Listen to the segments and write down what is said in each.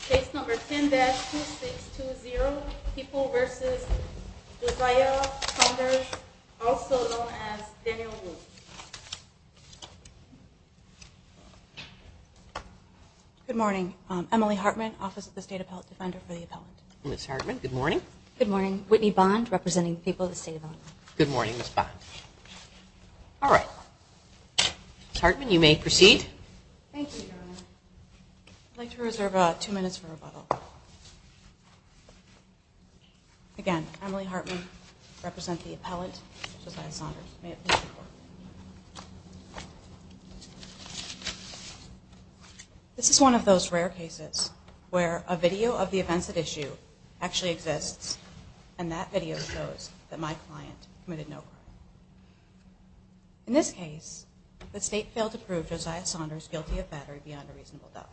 Case number 10-2620, People v. Josiah Saunders, also known as Daniel Wu. Good morning. Emily Hartman, Office of the State Appellate Defender for the Appellant. Ms. Hartman, good morning. Good morning. Whitney Bond, representing the People of the State of Illinois. Good morning, Ms. Bond. All right. Ms. Hartman, you may proceed. Thank you, Your Honor. I'd like to reserve two minutes for rebuttal. Again, Emily Hartman, representing the Appellant, Josiah Saunders. This is one of those rare cases where a video of the events at issue actually exists, and that video shows that my client committed no crime. In this case, the State failed to prove Josiah Saunders guilty of battery beyond a reasonable doubt.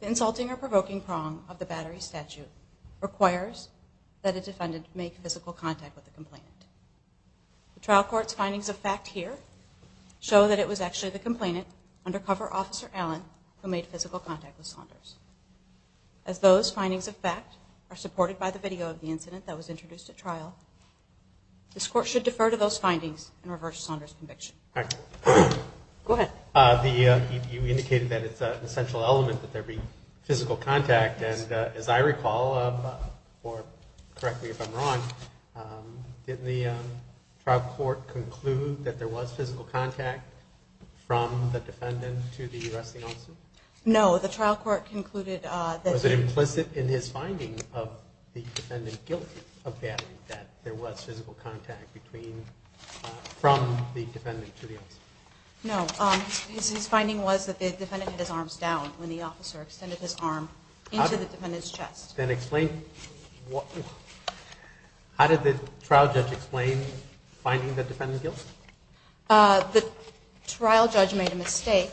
The insulting or provoking prong of the battery statute requires that a defendant make physical contact with the complainant. The trial court's findings of fact here show that it was actually the complainant, undercover officer Allen, who made physical contact with Saunders. As those findings of fact are supported by the video of the incident that was introduced at trial, this Court should defer to those findings and reverse Saunders' conviction. Go ahead. You indicated that it's an essential element that there be physical contact. As I recall, or correct me if I'm wrong, didn't the trial court conclude that there was physical contact from the defendant to the arresting officer? No, the trial court concluded that- No, his finding was that the defendant had his arms down when the officer extended his arm into the defendant's chest. Then explain- how did the trial judge explain finding the defendant guilty? The trial judge made a mistake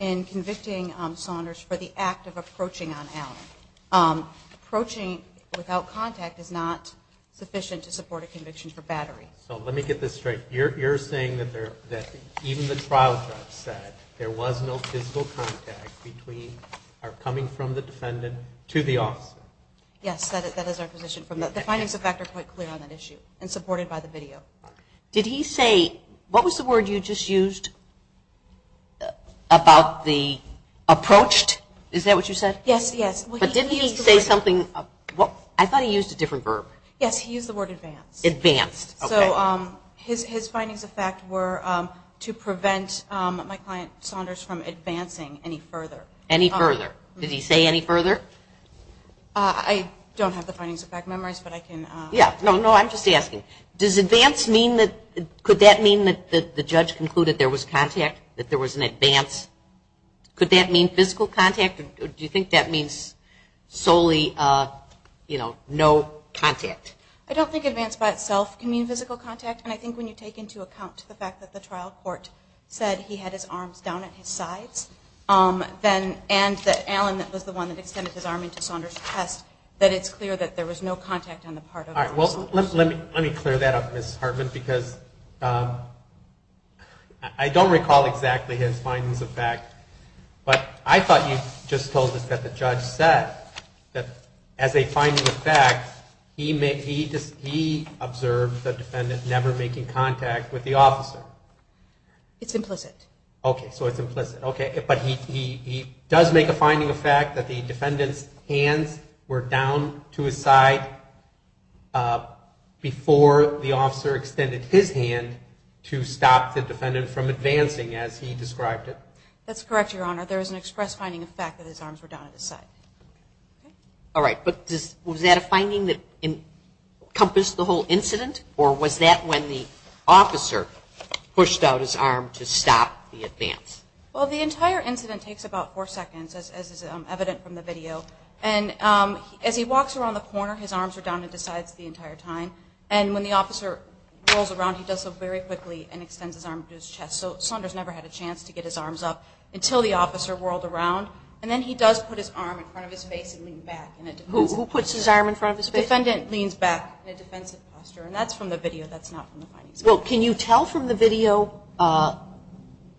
in convicting Saunders for the act of approaching on Allen. Approaching without contact is not sufficient to support the defendant's conviction. So let me get this straight. You're saying that even the trial judge said there was no physical contact between- or coming from the defendant to the officer? Yes, that is our position. The findings of fact are quite clear on that issue and supported by the video. Did he say- what was the word you just used about the approached? Is that what you said? Yes, yes. But didn't he say something- I thought he used a different verb. Yes, he used the word advanced. Advanced, okay. So his findings of fact were to prevent my client Saunders from advancing any further. Any further. Did he say any further? I don't have the findings of fact memories, but I can- Yeah, no, no, I'm just asking. Does advance mean that- could that mean that the judge concluded there was contact, that there was an advance? Could that mean physical contact? Do you think that means solely, you know, no contact? I don't think advance by itself can mean physical contact, and I think when you take into account the fact that the trial court said he had his arms down at his sides, and that Alan was the one that extended his arm into Saunders' chest, that it's clear that there was no contact on the part of- All right, well, let me clear that up, Ms. Hartman, because I don't recall exactly his findings of fact, but I thought you just told us that the judge said that as a finding of fact, he observed the defendant never making contact with the officer. It's implicit. Okay, so it's implicit. Okay, but he does make a finding of fact that the defendant's hands were down to his side before the officer extended his hand to stop the defendant from advancing, as he described it. That's correct, Your Honor. There is an express finding of fact that his arms were down at his side. All right, but was that a finding that encompassed the whole incident, or was that when the officer pushed out his arm to stop the advance? Well, the entire incident takes about four seconds, as is evident from the video, and as he walks around the corner, his arms are down at his sides the entire time, and when the officer rolls around, he does so very quickly and extends his arm to his chest. So Saunders never had a chance to get his arms up until the officer whirled around, and then he does put his arm in front of his face and leaned back. Who puts his arm in front of his face? The defendant leans back in a defensive posture, and that's from the video. That's not from the findings. Well, can you tell from the video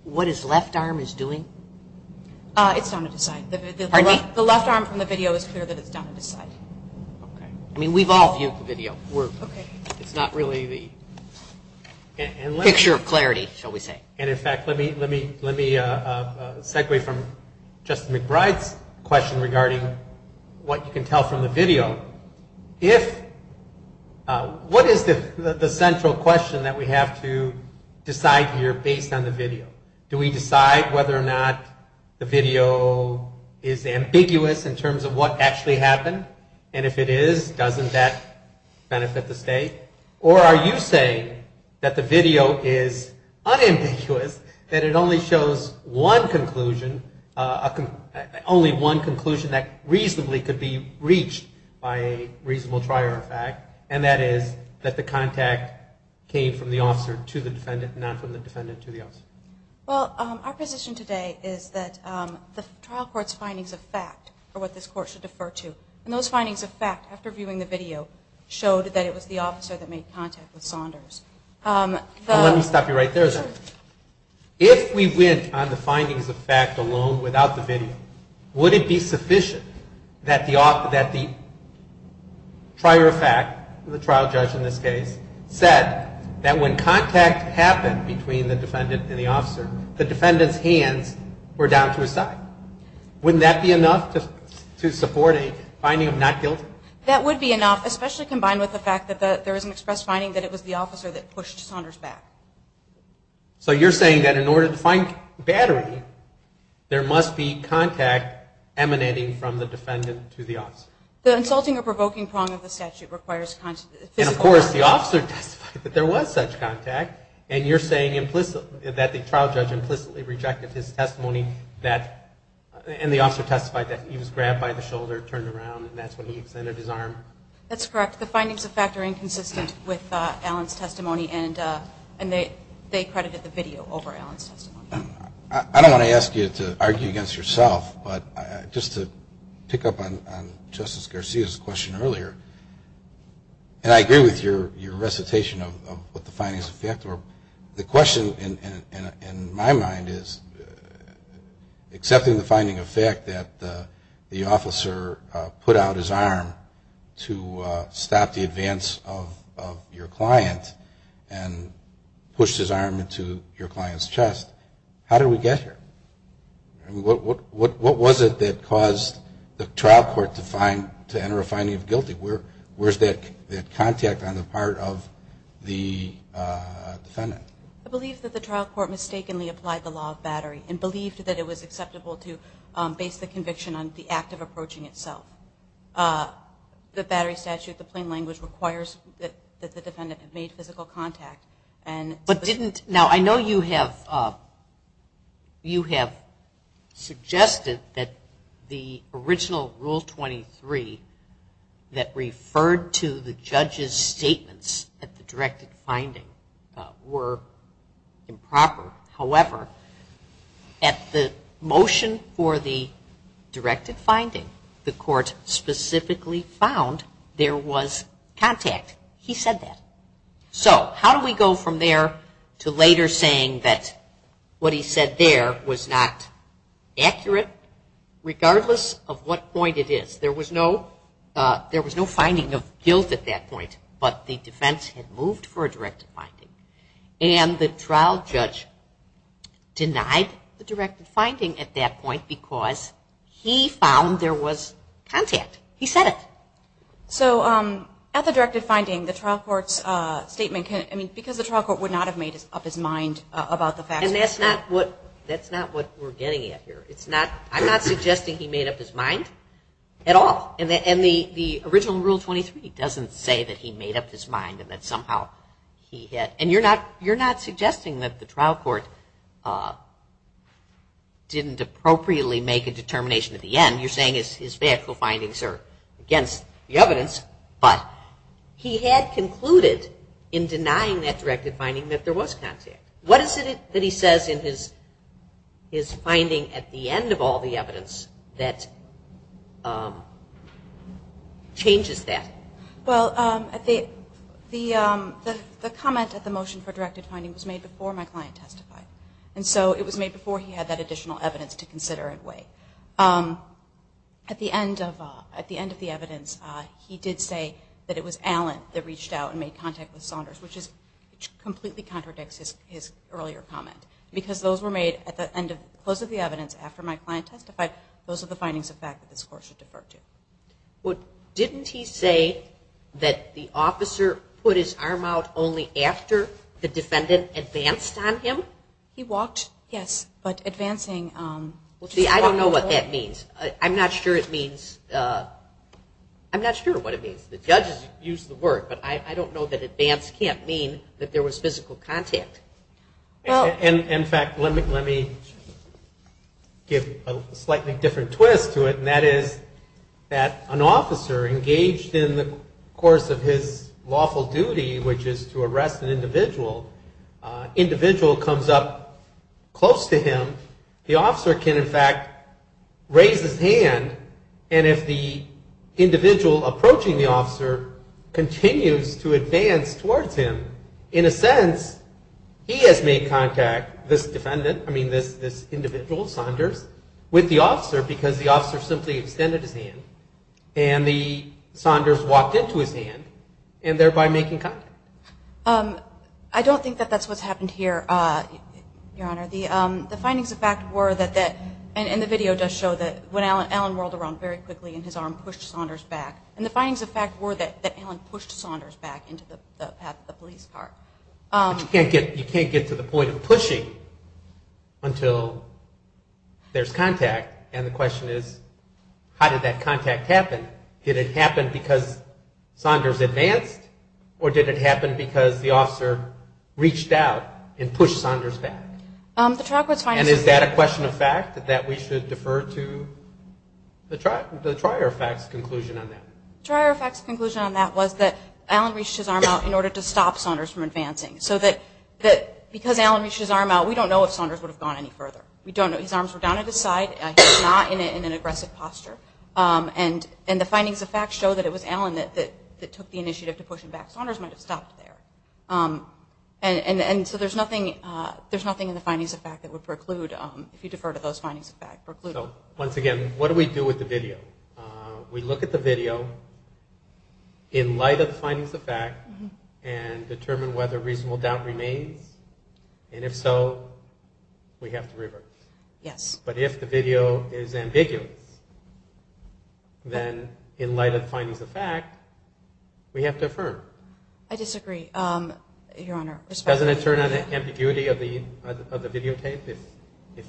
what his left arm is doing? It's down at his side. Pardon me? The left arm from the video is clear that it's down at his side. Okay. I mean, we've all viewed the video. Okay. It's not really the picture of clarity, shall we say. And, in fact, let me segue from Justice McBride's question regarding what you can tell from the video. Do we decide whether or not the video is ambiguous in terms of what actually happened? And if it is, doesn't that benefit the state? Or are you saying that the video is unambiguous, that it only shows one conclusion, only one conclusion that reasonably could be reached by a reasonable trier of fact, and that is that the contact came from the officer to the defendant, not from the defendant to the officer? Well, our position today is that the trial court's findings of fact are what this court should defer to, and those findings of fact, after viewing the video, showed that it was the officer that made contact with Saunders. Let me stop you right there, then. If we went on the findings of fact alone without the video, would it be sufficient that the trier of fact, the trial judge in this case, said that when contact happened between the defendant and the officer, the defendant's hands were down to his side? Wouldn't that be enough to support a finding of not guilty? That would be enough, especially combined with the fact that there is an express finding that it was the officer that pushed Saunders back. So you're saying that in order to find battery, there must be contact emanating from the defendant to the officer? The insulting or provoking prong of the statute requires physical contact. And, of course, the officer testified that there was such contact, and you're saying that the trial judge implicitly rejected his testimony, and the officer testified that he was grabbed by the shoulder, turned around, and that's when he extended his arm? That's correct. The findings of fact are inconsistent with Alan's testimony, and they credited the video over Alan's testimony. I don't want to ask you to argue against yourself, but just to pick up on Justice Garcia's question earlier, and I agree with your recitation of what the findings of fact were. The question in my mind is, accepting the finding of fact that the officer put out his arm to stop the advance of your client and pushed his arm into your client's chest, how did we get here? What was it that caused the trial court to enter a finding of guilty? Where's that contact on the part of the defendant? I believe that the trial court mistakenly applied the law of battery and believed that it was acceptable to base the conviction on the act of approaching itself. The battery statute, the plain language, requires that the defendant have made physical contact. I know you have suggested that the original Rule 23 that referred to the judge's statements at the directed finding were improper. However, at the motion for the directed finding, the court specifically found there was contact. He said that. So how do we go from there to later saying that what he said there was not accurate, regardless of what point it is? There was no finding of guilt at that point, but the defense had moved for a directed finding. And the trial judge denied the directed finding at that point because he found there was contact. He said it. So at the directed finding, the trial court's statement, because the trial court would not have made up his mind about the facts. And that's not what we're getting at here. I'm not suggesting he made up his mind at all. And the original Rule 23 doesn't say that he made up his mind and that somehow he had. And you're not suggesting that the trial court didn't appropriately make a determination at the end. You're saying his factual findings are against the evidence. But he had concluded in denying that directed finding that there was contact. What is it that he says in his finding at the end of all the evidence that changes that? Well, the comment at the motion for directed finding was made before my client testified. And so it was made before he had that additional evidence to consider and weigh. At the end of the evidence, he did say that it was Allen that reached out and made contact with Saunders, which completely contradicts his earlier comment. Because those were made at the close of the evidence after my client testified, those are the findings of fact that this court should defer to. Well, didn't he say that the officer put his arm out only after the defendant advanced on him? He walked, yes, but advancing. See, I don't know what that means. I'm not sure it means, I'm not sure what it means. The judges used the word. But I don't know that advance can't mean that there was physical contact. In fact, let me give a slightly different twist to it, and that is that an officer engaged in the course of his lawful duty, which is to arrest an individual, individual comes up close to him. The officer can, in fact, raise his hand. And if the individual approaching the officer continues to advance towards him, in a sense, he has made contact, this defendant, I mean this individual, Saunders, with the officer because the officer simply extended his hand, and the Saunders walked into his hand, and thereby making contact. I don't think that that's what's happened here, Your Honor. The findings of fact were that that, and the video does show that when Allen whirled around very quickly and his arm pushed Saunders back, and the findings of fact were that Allen pushed Saunders back into the path of the police car. But you can't get to the point of pushing until there's contact, and the question is how did that contact happen? Did it happen because Saunders advanced, or did it happen because the officer reached out and pushed Saunders back? The trial court's findings of fact. Is there a fact that we should defer to the trial court's conclusion on that? The trial court's conclusion on that was that Allen reached his arm out in order to stop Saunders from advancing. So that because Allen reached his arm out, we don't know if Saunders would have gone any further. We don't know. His arms were down at his side. He was not in an aggressive posture. And the findings of fact show that it was Allen that took the initiative to push him back. Saunders might have stopped there. And so there's nothing in the findings of fact that would preclude, if you defer to those findings of fact, preclude. So once again, what do we do with the video? We look at the video in light of the findings of fact and determine whether reasonable doubt remains, and if so, we have to reverse. Yes. But if the video is ambiguous, then in light of the findings of fact, we have to affirm. I disagree, Your Honor. Doesn't it turn on the ambiguity of the videotape? If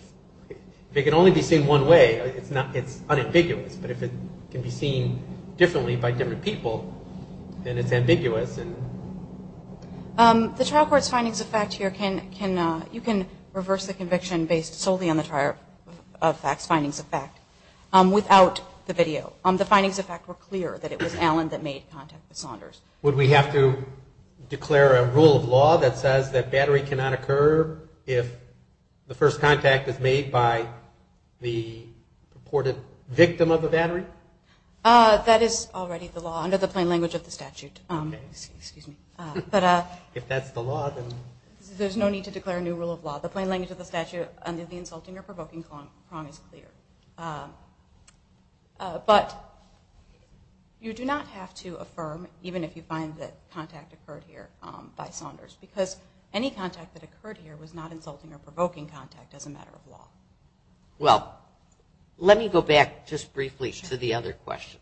it can only be seen one way, it's unambiguous. But if it can be seen differently by different people, then it's ambiguous. The trial court's findings of fact here, you can reverse the conviction based solely on the trial court's findings of fact without the video. The findings of fact were clear that it was Allen that made contact with Saunders. Would we have to declare a rule of law that says that battery cannot occur if the first contact is made by the purported victim of the battery? That is already the law under the plain language of the statute. Excuse me. If that's the law, then... There's no need to declare a new rule of law. The plain language of the statute under the insulting or provoking prong is clear. But you do not have to affirm even if you find that contact occurred here by Saunders because any contact that occurred here was not insulting or provoking contact as a matter of law. Well, let me go back just briefly to the other question.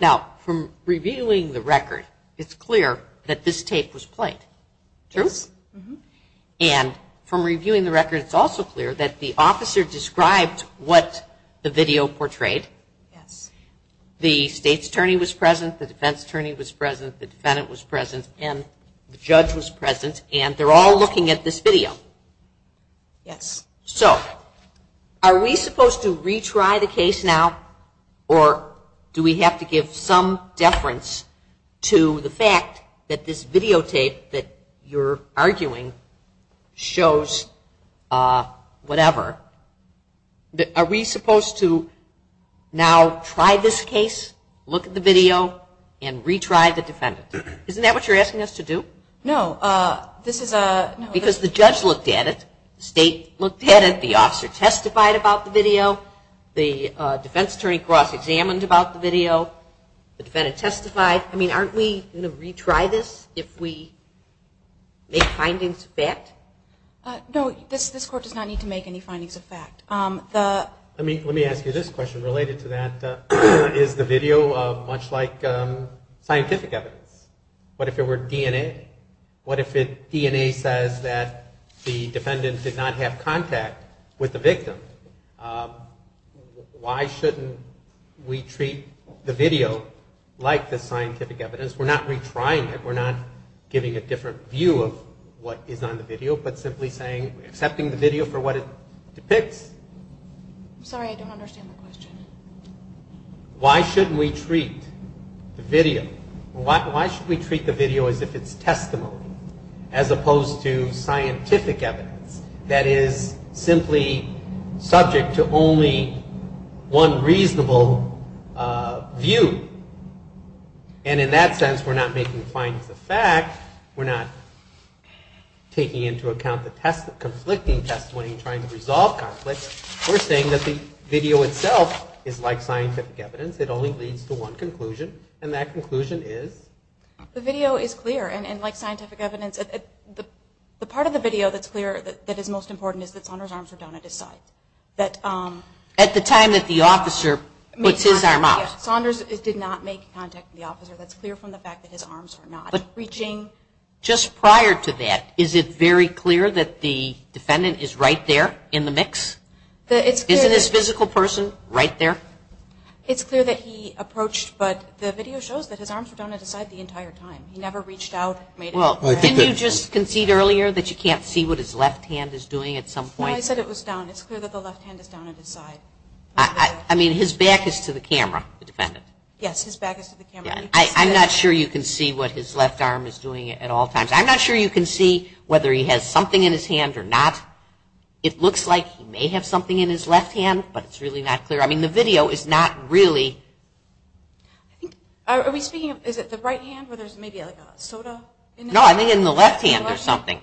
Now, from reviewing the record, it's clear that this tape was played. True? Yes. And from reviewing the record, it's also clear that the officer described what the video portrayed. Yes. The state's attorney was present, the defense attorney was present, the defendant was present, and the judge was present, and they're all looking at this video. Yes. So are we supposed to retry the case now, or do we have to give some deference to the fact that this videotape that you're arguing shows whatever? Are we supposed to now try this case, look at the video, and retry the defendant? Isn't that what you're asking us to do? No. This is a... Because the judge looked at it, the state looked at it, the officer testified about the video, the defense attorney cross-examined about the video, the defendant testified. I mean, aren't we going to retry this if we make findings of fact? No, this Court does not need to make any findings of fact. Let me ask you this question. Related to that, is the video much like scientific evidence? What if it were DNA? What if DNA says that the defendant did not have contact with the victim? Why shouldn't we treat the video like the scientific evidence? We're not retrying it. We're not giving a different view of what is on the video, but simply accepting the video for what it depicts. I'm sorry, I don't understand the question. Why shouldn't we treat the video as if it's testimony, as opposed to scientific evidence, that is simply subject to only one reasonable view? And in that sense, we're not making findings of fact. We're not taking into account the conflicting testimony and trying to resolve conflicts. We're saying that the video itself is like scientific evidence. It only leads to one conclusion, and that conclusion is? The video is clear, and like scientific evidence. The part of the video that is most important is that Saunders' arms were down at his side. At the time that the officer puts his arm out? Saunders did not make contact with the officer. That's clear from the fact that his arms are not reaching. Just prior to that, is it very clear that the defendant is right there in the mix? Isn't his physical person right there? It's clear that he approached, but the video shows that his arms were down at his side the entire time. He never reached out. Didn't you just concede earlier that you can't see what his left hand is doing at some point? No, I said it was down. It's clear that the left hand is down at his side. I mean, his back is to the camera, the defendant. Yes, his back is to the camera. I'm not sure you can see what his left arm is doing at all times. I'm not sure you can see whether he has something in his hand or not. It looks like he may have something in his left hand, but it's really not clear. I mean, the video is not really. Are we speaking, is it the right hand where there's maybe like a soda in it? No, I think in the left hand there's something.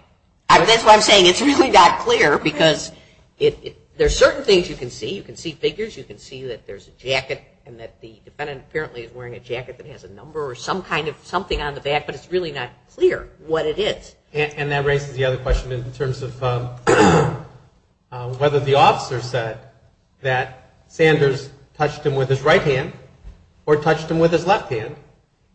That's why I'm saying it's really not clear because there's certain things you can see. You can see figures. You can see that there's a jacket and that the defendant apparently is wearing a jacket that has a number or some kind of something on the back, but it's really not clear what it is. And that raises the other question in terms of whether the officer said that Sanders touched him with his right hand or touched him with his left hand.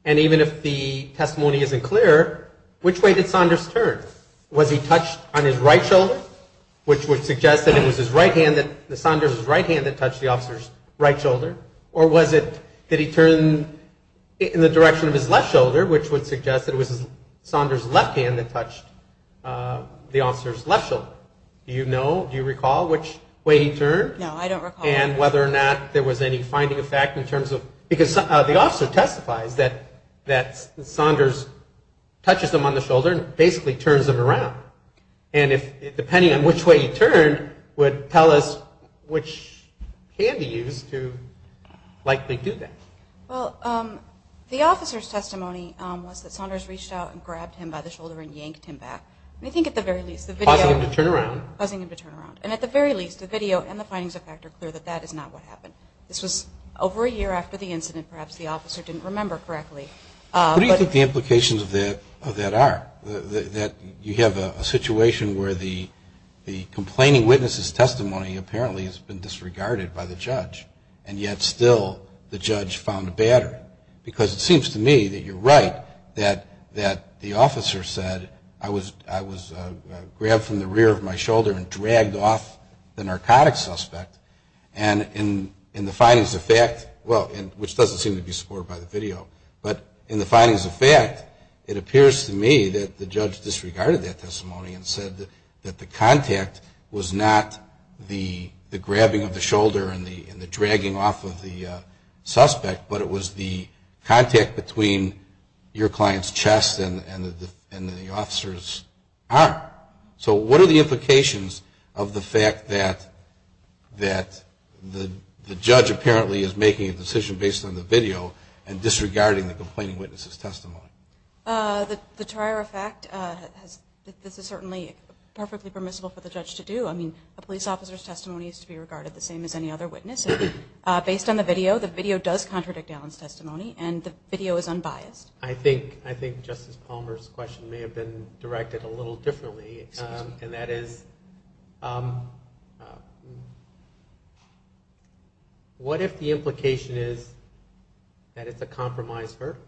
And even if the testimony isn't clear, which way did Sanders turn? Was he touched on his right shoulder, which would suggest that it was his right hand, that Sanders' right hand that touched the officer's right shoulder? Or was it that he turned in the direction of his left shoulder, which would suggest that it was Sanders' left hand that touched the officer's left shoulder? Do you know, do you recall which way he turned? No, I don't recall. And whether or not there was any finding of fact in terms of – because the officer testifies that Sanders touches him on the shoulder and basically turns him around. And depending on which way he turned would tell us which hand he used to likely do that. Well, the officer's testimony was that Sanders reached out and grabbed him by the shoulder and yanked him back. And I think at the very least the video – Causing him to turn around. Causing him to turn around. And at the very least the video and the findings of fact are clear that that is not what happened. This was over a year after the incident. Perhaps the officer didn't remember correctly. What do you think the implications of that are? That you have a situation where the complaining witness's testimony apparently has been disregarded by the judge and yet still the judge found a battery? Because it seems to me that you're right that the officer said, I was grabbed from the rear of my shoulder and dragged off the narcotic suspect. And in the findings of fact – well, which doesn't seem to be supported by the video. But in the findings of fact, it appears to me that the judge disregarded that testimony and said that the contact was not the grabbing of the shoulder and the dragging off of the suspect, but it was the contact between your client's chest and the officer's arm. So what are the implications of the fact that the judge apparently is making a decision based on the video and disregarding the complaining witness's testimony? The trier of fact, this is certainly perfectly permissible for the judge to do. I mean, a police officer's testimony is to be regarded the same as any other witness. Based on the video, the video does contradict Allen's testimony and the video is unbiased. I think Justice Palmer's question may have been directed a little differently. And that is, what if the implication is that it's a compromise verdict?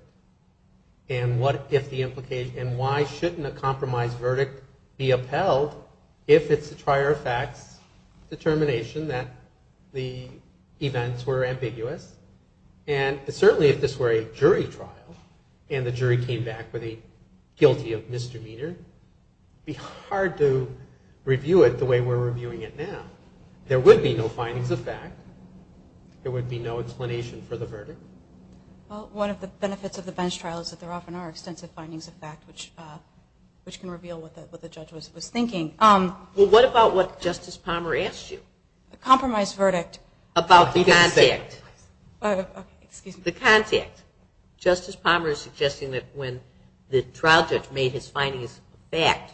And what if the implication – and why shouldn't a compromise verdict be upheld if it's the trier of fact's determination that the events were ambiguous? And certainly if this were a jury trial and the jury came back with a guilty of misdemeanor, it would be hard to review it the way we're reviewing it now. There would be no findings of fact. There would be no explanation for the verdict. Well, one of the benefits of the bench trial is that there often are extensive findings of fact which can reveal what the judge was thinking. Well, what about what Justice Palmer asked you? A compromise verdict. About the contact. Excuse me. The contact. Justice Palmer is suggesting that when the trial judge made his findings of fact,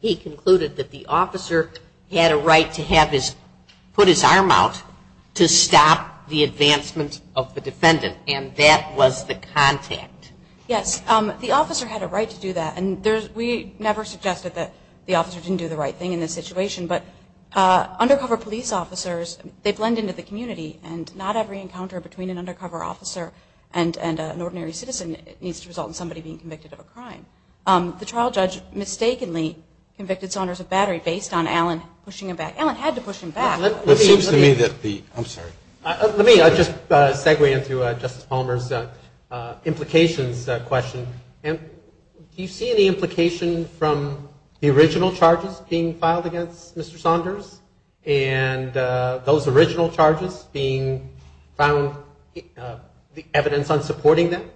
he concluded that the officer had a right to have his – put his arm out to stop the advancement of the defendant, and that was the contact. Yes. The officer had a right to do that, and we never suggested that the officer didn't do the right thing in this situation, but undercover police officers, they blend into the community, and not every encounter between an undercover officer and an ordinary citizen needs to result in somebody being convicted of a crime. The trial judge mistakenly convicted Saunders of battery based on Allen pushing him back. Allen had to push him back. It seems to me that the – I'm sorry. Let me just segue into Justice Palmer's implications question. Do you see any implication from the original charges being filed against Mr. Saunders and those original charges being found, the evidence on supporting them,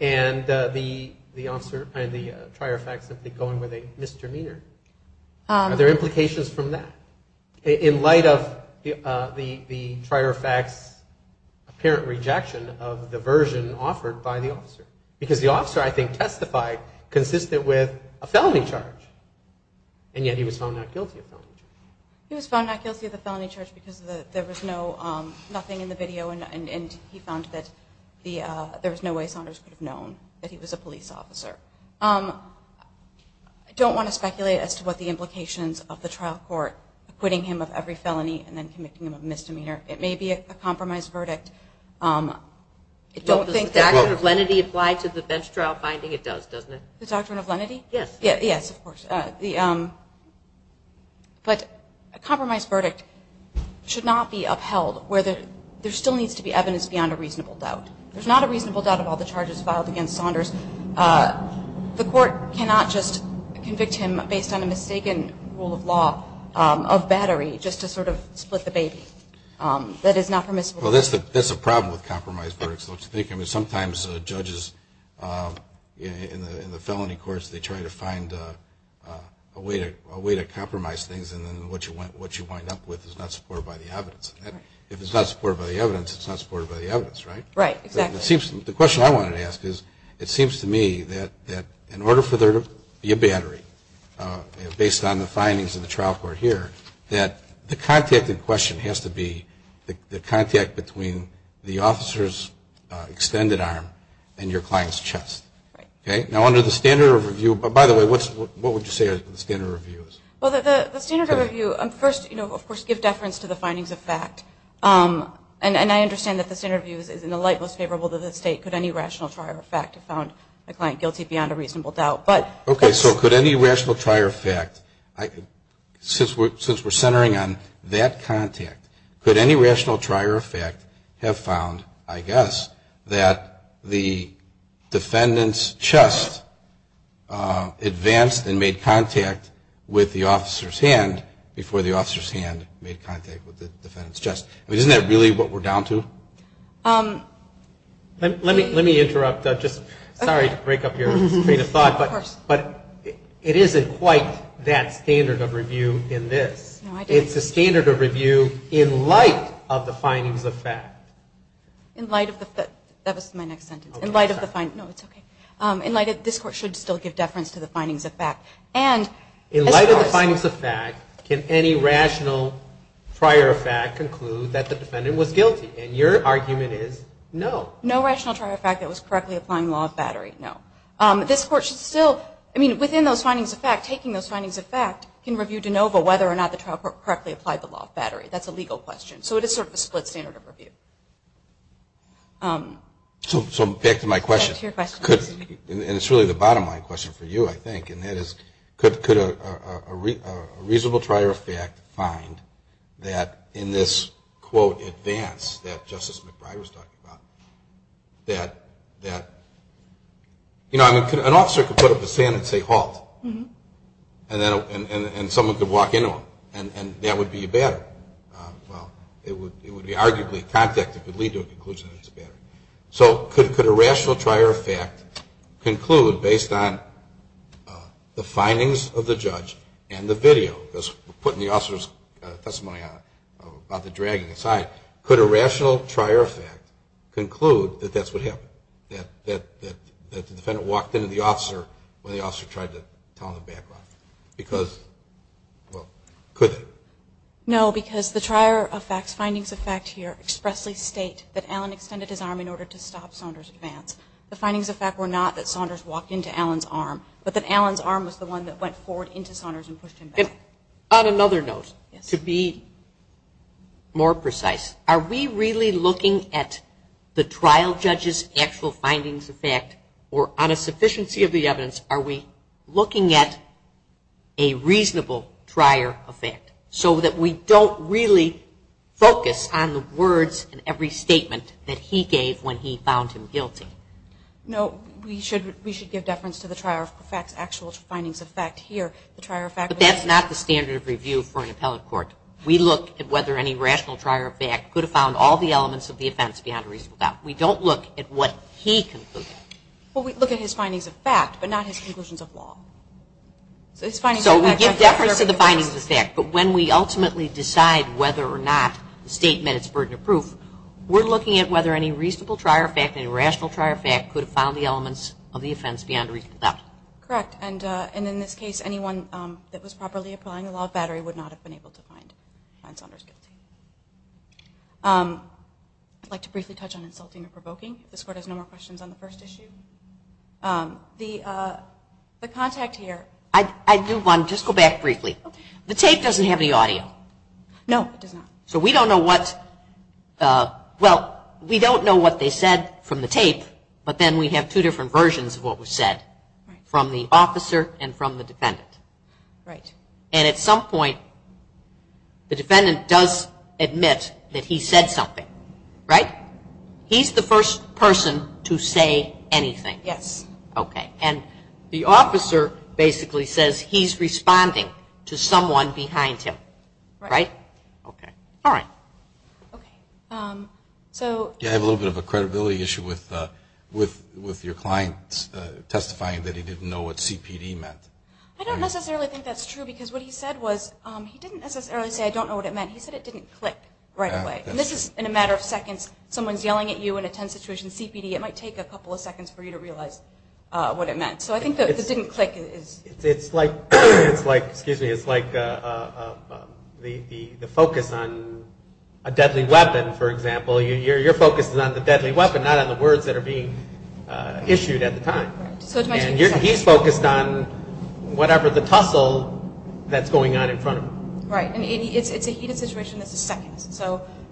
and the officer and the trier of fact simply going with a misdemeanor? Are there implications from that? In light of the trier of fact's apparent rejection of the version offered by the officer, because the officer, I think, testified consistent with a felony charge, and yet he was found not guilty of the felony charge. He was found not guilty of the felony charge because there was no – nothing in the video, and he found that there was no way Saunders could have known that he was a police officer. I don't want to speculate as to what the implications of the trial court acquitting him of every felony and then committing him of misdemeanor. It may be a compromised verdict. It don't think that – Well, does the doctrine of lenity apply to the bench trial finding? It does, doesn't it? The doctrine of lenity? Yes. Yes, of course. But a compromised verdict should not be upheld where there still needs to be evidence beyond a reasonable doubt. There's not a reasonable doubt of all the charges filed against Saunders. The court cannot just convict him based on a mistaken rule of law of battery just to sort of split the baby. That is not permissible. Well, that's the problem with compromised verdicts. Sometimes judges in the felony courts, they try to find a way to compromise things, and then what you wind up with is not supported by the evidence. If it's not supported by the evidence, it's not supported by the evidence, right? Right, exactly. The question I wanted to ask is, it seems to me that in order for there to be a battery, based on the findings of the trial court here, that the contact in question has to be the contact between the officer's extended arm and your client's chest. Right. Now, under the standard of review – by the way, what would you say are the standard of reviews? Well, the standard of review, first, of course, give deference to the findings of fact. And I understand that the standard of review is in the light most favorable to the state. Could any rational trier of fact have found a client guilty beyond a reasonable doubt? Okay, so could any rational trier of fact, since we're centering on that contact, could any rational trier of fact have found, I guess, that the defendant's chest advanced and made contact with the officer's hand before the officer's hand made contact with the defendant's chest? I mean, isn't that really what we're down to? Let me interrupt. Sorry to break up your train of thought, but it isn't quite that standard of review in this. No, I didn't. It's a standard of review in light of the findings of fact. In light of the – that was my next sentence. In light of the – no, it's okay. In light of – this Court should still give deference to the findings of fact. In light of the findings of fact, can any rational trier of fact conclude that the defendant was guilty? And your argument is no. No rational trier of fact that was correctly applying law of battery, no. This Court should still – I mean, within those findings of fact, taking those findings of fact can review de novo whether or not the trial court correctly applied the law of battery. That's a legal question. So it is sort of a split standard of review. So back to my question. Back to your question. And it's really the bottom line question for you, I think, and that is could a reasonable trier of fact find that in this, quote, advance that Justice McBride was talking about, that, you know, an officer could put up a stand and say halt, and someone could walk into him, and that would be a battery. Well, it would be arguably a contact that could lead to a conclusion that it's a battery. So could a rational trier of fact conclude, based on the findings of the judge and the video, because we're putting the officer's testimony about the dragging aside, could a rational trier of fact conclude that that's what happened, that the defendant walked into the officer when the officer tried to tell him the background? Because, well, could they? No, because the trier of facts, findings of fact here, expressly state that Alan extended his arm in order to stop Saunders' advance. The findings of fact were not that Saunders walked into Alan's arm, but that Alan's arm was the one that went forward into Saunders and pushed him back. And on another note, to be more precise, are we really looking at the trial judge's actual findings of fact, or on a sufficiency of the evidence, are we looking at a reasonable trier of fact, so that we don't really focus on the words in every statement that he gave when he found him guilty? No, we should give deference to the trier of facts' actual findings of fact here. But that's not the standard of review for an appellate court. We look at whether any rational trier of fact could have found all the elements of the offense beyond a reasonable doubt. We don't look at what he concluded. Well, we look at his findings of fact, but not his conclusions of law. So we give deference to the findings of fact, but when we ultimately decide whether or not the statement is burden of proof, we're looking at whether any reasonable trier of fact, any rational trier of fact, could have found the elements of the offense beyond a reasonable doubt. Correct. And in this case, anyone that was properly applying the law of battery would not have been able to find Saunders guilty. I'd like to briefly touch on insulting or provoking. This Court has no more questions on the first issue. The contact here. I do want to just go back briefly. The tape doesn't have any audio. No, it does not. So we don't know what they said from the tape, but then we have two different versions of what was said from the officer and from the defendant. Right. And at some point, the defendant does admit that he said something, right? He's the first person to say anything. Yes. Okay. And the officer basically says he's responding to someone behind him, right? Okay. All right. Okay. So you have a little bit of a credibility issue with your client testifying that he didn't know what CPD meant. I don't necessarily think that's true because what he said was, he didn't necessarily say, I don't know what it meant. He said it didn't click right away. And this is in a matter of seconds. Someone's yelling at you in a tense situation, CPD, it might take a couple of seconds for you to realize what it meant. So I think that it didn't click. It's like the focus on a deadly weapon, for example. Your focus is on the deadly weapon, not on the words that are being issued at the time. And he's focused on whatever the tussle that's going on in front of him. Right. And it's a heated situation that's a second.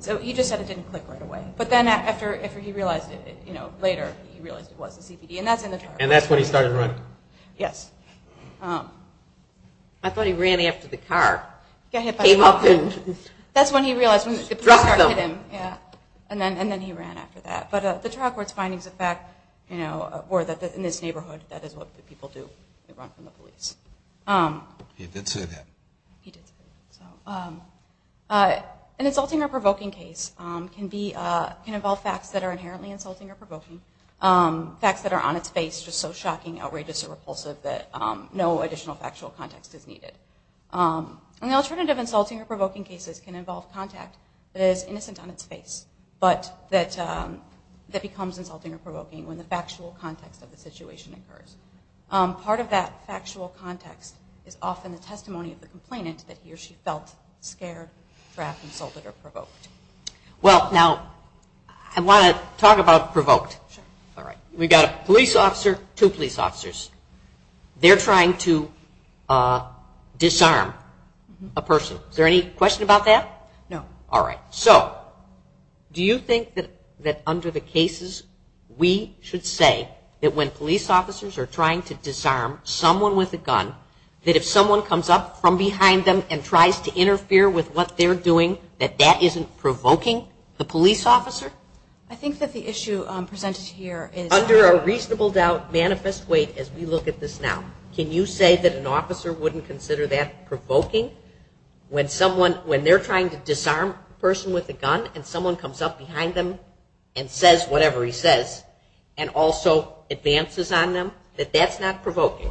So he just said it didn't click right away. But then after he realized it later, he realized it was the CPD. And that's in the trial court. And that's when he started running. Yes. I thought he ran after the car. He got hit by a car. That's when he realized when the car hit him. And then he ran after that. But the trial court's findings of fact were that in this neighborhood, that is what people do. They run from the police. He did say that. He did say that. An insulting or provoking case can involve facts that are inherently insulting or provoking, facts that are on its face, just so shocking, outrageous, or repulsive that no additional factual context is needed. And the alternative insulting or provoking cases can involve contact that is innocent on its face, but that becomes insulting or provoking when the factual context of the situation occurs. Part of that factual context is often the testimony of the complainant that he or she felt scared, trapped, insulted, or provoked. Well, now, I want to talk about provoked. We've got a police officer, two police officers. They're trying to disarm a person. Is there any question about that? No. All right. So do you think that under the cases, we should say that when police officers are trying to disarm someone with a gun, that if someone comes up from behind them and tries to interfere with what they're doing, that that isn't provoking the police officer? I think that the issue presented here is Under a reasonable doubt, manifest weight, as we look at this now, can you say that an officer wouldn't consider that provoking when someone, when they're trying to disarm a person with a gun and someone comes up behind them and says whatever he says and also advances on them, that that's not provoking?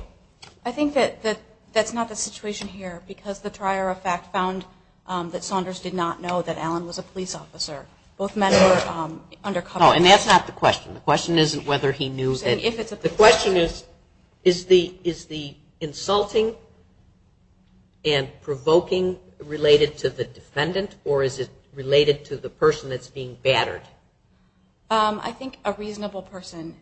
I think that that's not the situation here because the trier of fact found that Saunders did not know that Allen was a police officer. Both men were undercover. No, and that's not the question. The question isn't whether he knew that. The question is, is the insulting and provoking related to the defendant or is it related to the person that's being battered? I think a reasonable person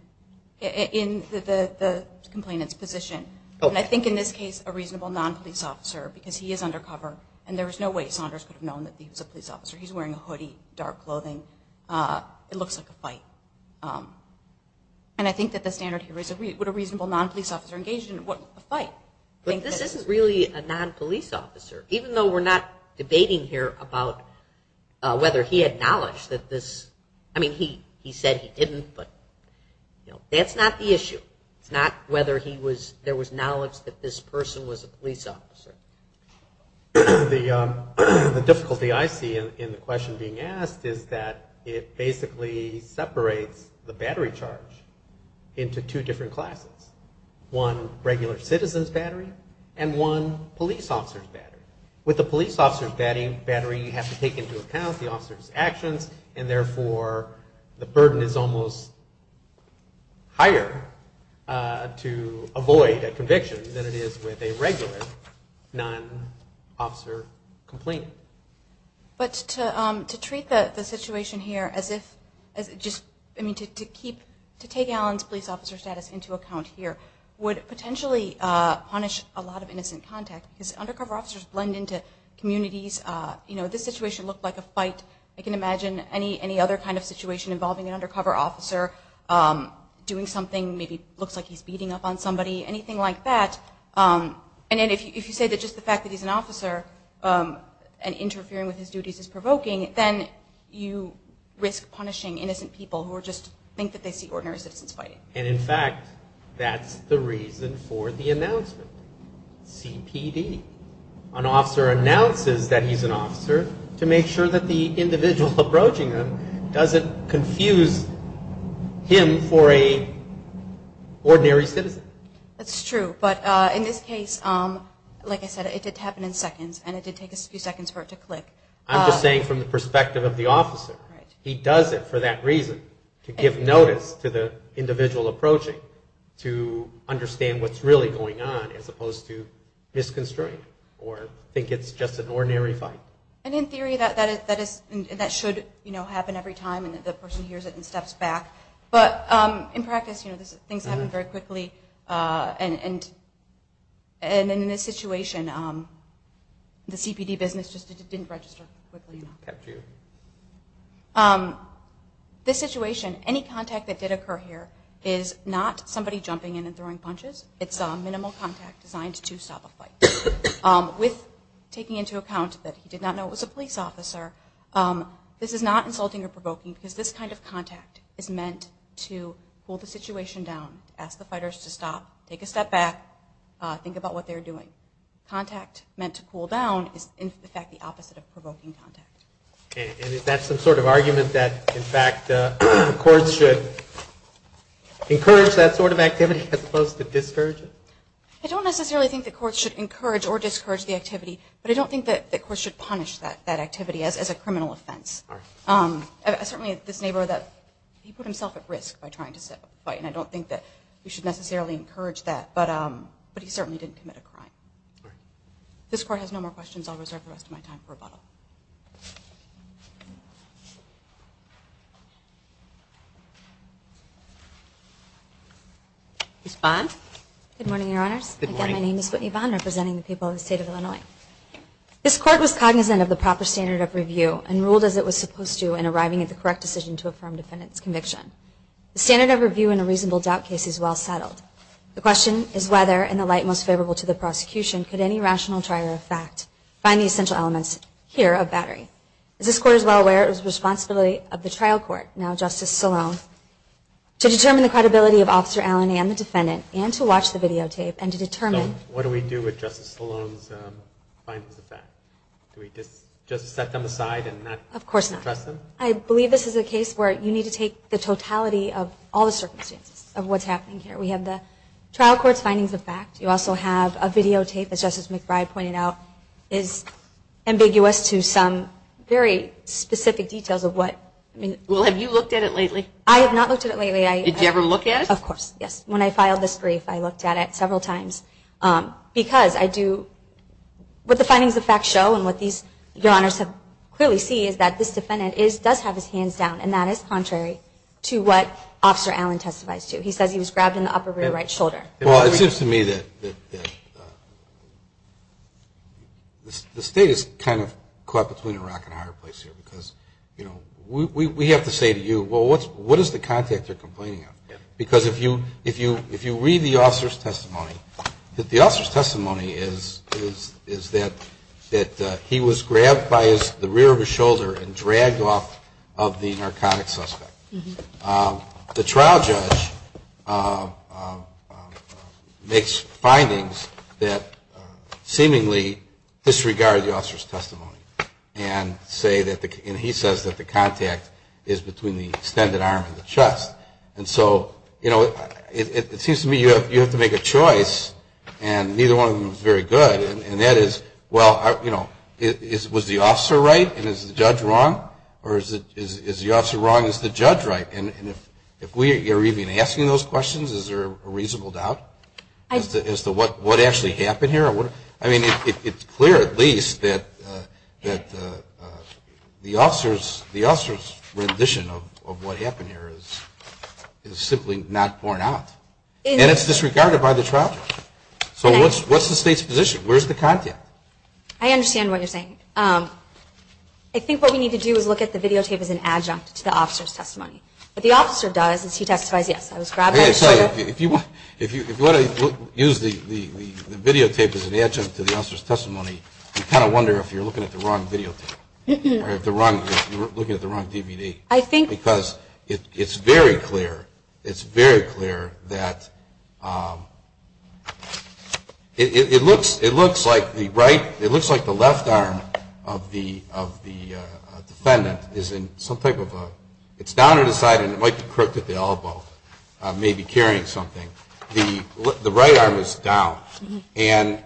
in the complainant's position, and I think in this case a reasonable non-police officer because he is undercover and there is no way Saunders could have known that he was a police officer. He's wearing a hoodie, dark clothing. It looks like a fight. And I think that the standard here is would a reasonable non-police officer be engaged in a fight? This isn't really a non-police officer, even though we're not debating here about whether he had knowledge that this, I mean he said he didn't, but that's not the issue. It's not whether there was knowledge that this person was a police officer. The difficulty I see in the question being asked is that it basically separates the battery charge into two different classes, one regular citizen's battery and one police officer's battery. With the police officer's battery, you have to take into account the officer's actions and therefore the burden is almost higher to avoid a conviction than it is with a regular non-officer complainant. But to treat the situation here as if, I mean to take Alan's police officer status into account here would potentially punish a lot of innocent contact because undercover officers blend into communities. This situation looked like a fight. I can imagine any other kind of situation involving an undercover officer doing something, maybe looks like he's beating up on somebody, anything like that. And if you say that just the fact that he's an officer and interfering with his duties is provoking, then you risk punishing innocent people who just think that they see ordinary citizens fighting. And in fact, that's the reason for the announcement. CPD, an officer announces that he's an officer to make sure that the individual approaching him doesn't confuse him for an ordinary citizen. That's true. But in this case, like I said, it did happen in seconds and it did take a few seconds for it to click. I'm just saying from the perspective of the officer, he does it for that reason, to give notice to the individual approaching to understand what's really going on as opposed to misconstruing or think it's just an ordinary fight. And in theory, that should happen every time and the person hears it and steps back. But in practice, things happen very quickly. And in this situation, the CPD business just didn't register quickly enough. This situation, any contact that did occur here is not somebody jumping in and throwing punches. It's minimal contact designed to stop a fight. With taking into account that he did not know it was a police officer, this is not insulting or provoking because this kind of contact is meant to pull the situation down, ask the fighters to stop, take a step back, think about what they're doing. Contact meant to pull down is, in fact, the opposite of provoking contact. And is that some sort of argument that, in fact, the courts should encourage that sort of activity as opposed to discourage it? I don't necessarily think the courts should encourage or discourage the activity, but I don't think that the courts should punish that activity as a criminal offense. Certainly, this neighbor, he put himself at risk by trying to set up a fight, and I don't think that we should necessarily encourage that, but he certainly didn't commit a crime. This court has no more questions. I'll reserve the rest of my time for rebuttal. Ms. Vaughn? Good morning, Your Honors. Again, my name is Whitney Vaughn, representing the people of the state of Illinois. This court was cognizant of the proper standard of review and ruled as it was supposed to in arriving at the correct decision to affirm defendant's conviction. The standard of review in a reasonable doubt case is well settled. The question is whether, in the light most favorable to the prosecution, could any rational trier of fact find the essential elements here of battery? Is this court as well aware of the responsibility of the trial court, now Justice Salone, to determine the credibility of Officer Allen and the defendant, and to watch the videotape, and to determine So, what do we do with Justice Salone's findings of fact? Do we just set them aside and not address them? Of course not. I believe this is a case where you need to take the totality of all the circumstances of what's happening here. We have the trial court's findings of fact. You also have a videotape, as Justice McBride pointed out, is ambiguous to some very specific details of what Well, have you looked at it lately? I have not looked at it lately. Did you ever look at it? Of course, yes. When I filed this brief, I looked at it several times, because I do, what the findings of fact show, and what these, your honors have clearly seen, is that this defendant does have his hands down, and that is contrary to what Officer Allen testifies to. He says he was grabbed in the upper right shoulder. Well, it seems to me that the state is kind of caught between a rock and a hard place here, because we have to say to you, well, what is the contact you're complaining of? Because if you read the officer's testimony, the officer's testimony is that he was grabbed by the rear of his shoulder and dragged off of the narcotic suspect. The trial judge makes findings that seemingly disregard the officer's testimony, and he says that the contact is between the extended arm and the chest. And so, you know, it seems to me you have to make a choice, and neither one of them is very good, and that is, well, you know, was the officer right and is the judge wrong, or is the officer wrong and is the judge right? And if we are even asking those questions, is there a reasonable doubt as to what actually happened here? I mean, it's clear at least that the officer's rendition of what happened here is simply not borne out, and it's disregarded by the trial judge. So what's the state's position? Where's the contact? I understand what you're saying. I think what we need to do is look at the videotape as an adjunct to the officer's testimony. What the officer does is he testifies, yes, I was grabbed by the shoulder. If you want to use the videotape as an adjunct to the officer's testimony, you kind of wonder if you're looking at the wrong videotape or if you're looking at the wrong DVD. Because it's very clear, it's very clear that it looks like the left arm of the defendant is in some type of a, it's down at his side and it might be crooked at the elbow, maybe carrying something. The right arm is down. And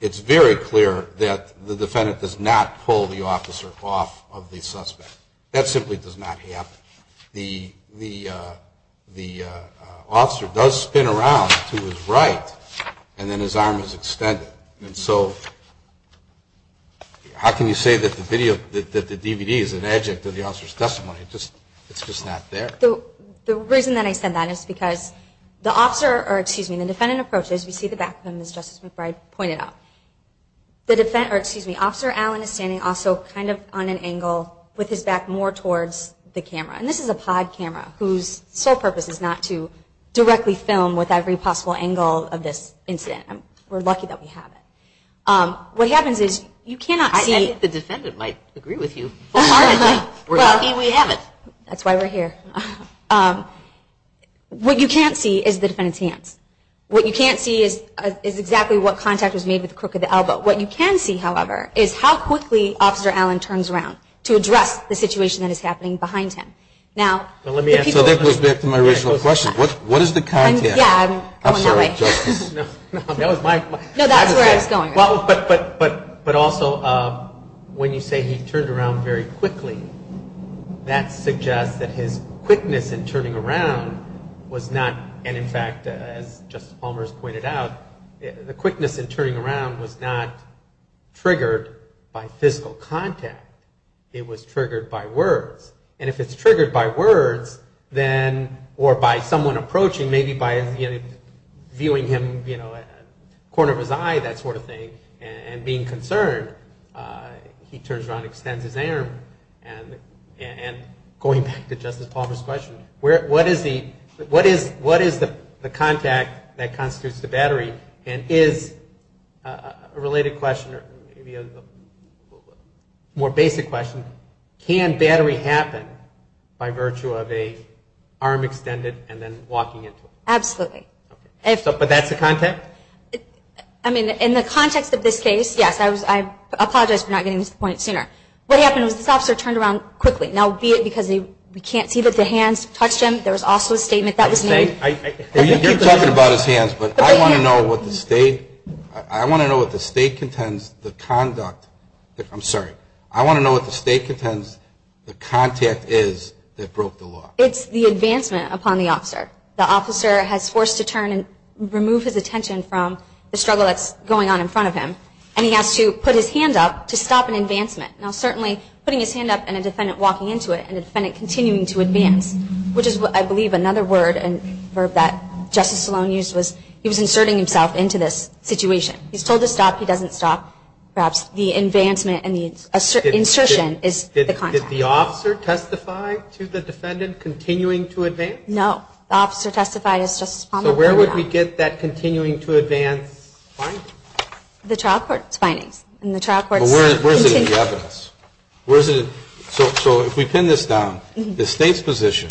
it's very clear that the defendant does not pull the officer off of the suspect. That simply does not happen. The officer does spin around to his right and then his arm is extended. And so how can you say that the DVD is an adjunct to the officer's testimony? It's just not there. The reason that I said that is because the defendant approaches, we see the back of him as Justice McBride pointed out. Officer Allen is standing also kind of on an angle with his back more towards the camera. And this is a pod camera whose sole purpose is not to directly film with every possible angle of this incident. We're lucky that we have it. What happens is you cannot see. I think the defendant might agree with you. We're lucky we have it. That's why we're here. What you can't see is the defendant's hands. What you can't see is exactly what contact was made with the crook of the elbow. What you can see, however, is how quickly Officer Allen turns around to address the situation that is happening behind him. So that goes back to my original question. What is the contact? Yeah, I'm going that way. No, that's where I was going. But also, when you say he turned around very quickly, that suggests that his quickness in turning around was not, and in fact, as Justice Palmers pointed out, the quickness in turning around was not triggered by physical contact. It was triggered by words. And if it's triggered by words, then, or by someone approaching, maybe by viewing him at the corner of his eye, that sort of thing, and being concerned, he turns around and extends his arm. And going back to Justice Palmer's question, what is the contact that constitutes the battery? And his related question, maybe a more basic question, can battery happen by virtue of an arm extended and then walking into it? Absolutely. But that's the contact? I mean, in the context of this case, yes. I apologize for not getting to this point sooner. What happened was this officer turned around quickly. Now, be it because we can't see that the hands touched him. There was also a statement that was made. Well, you keep talking about his hands, but I want to know what the state, I want to know what the state contends the conduct, I'm sorry, I want to know what the state contends the contact is that broke the law. It's the advancement upon the officer. The officer has forced a turn and removed his attention from the struggle that's going on in front of him. And he has to put his hand up to stop an advancement. Now, certainly, putting his hand up and a defendant walking into it and a defendant continuing to advance, which is, I believe, another word and verb that Justice Sloan used was he was inserting himself into this situation. He's told to stop, he doesn't stop. Perhaps the advancement and the insertion is the contact. Did the officer testify to the defendant continuing to advance? No. The officer testified as Justice Palmer pointed out. So where would we get that continuing to advance finding? The trial court's findings. Well, where is it in the evidence? So if we pin this down, the state's position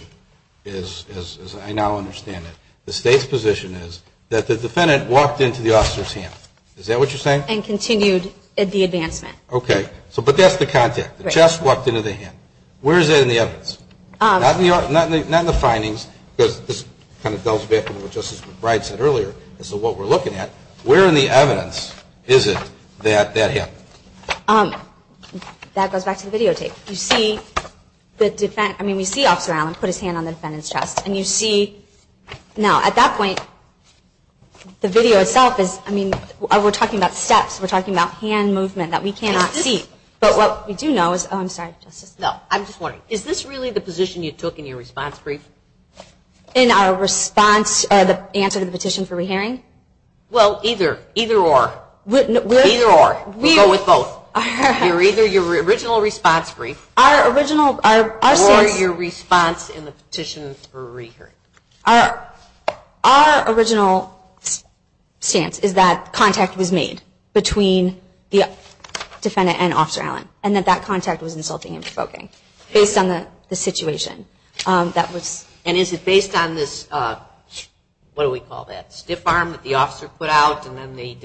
is, as I now understand it, the state's position is that the defendant walked into the officer's hand. Is that what you're saying? And continued the advancement. Okay. But that's the contact. The chest walked into the hand. Where is that in the evidence? Not in the findings because this kind of delves back into what Justice McBride said earlier. This is what we're looking at. Where in the evidence is it that that happened? That goes back to the videotape. I mean, we see Officer Allen put his hand on the defendant's chest. And you see, now at that point, the video itself is, I mean, we're talking about steps. We're talking about hand movement that we cannot see. But what we do know is, oh, I'm sorry, Justice. No, I'm just wondering. Is this really the position you took in your response brief? In our response, the answer to the petition for re-hearing? Well, either. Either or. Either or. We go with both. Either your original response brief. Our original, our stance. Or your response in the petition for re-hearing. Our original stance is that contact was made between the defendant and Officer Allen. And that that contact was insulting and provoking. Based on the situation that was. And is it based on this, what do we call that, stiff arm that the officer put out? Well,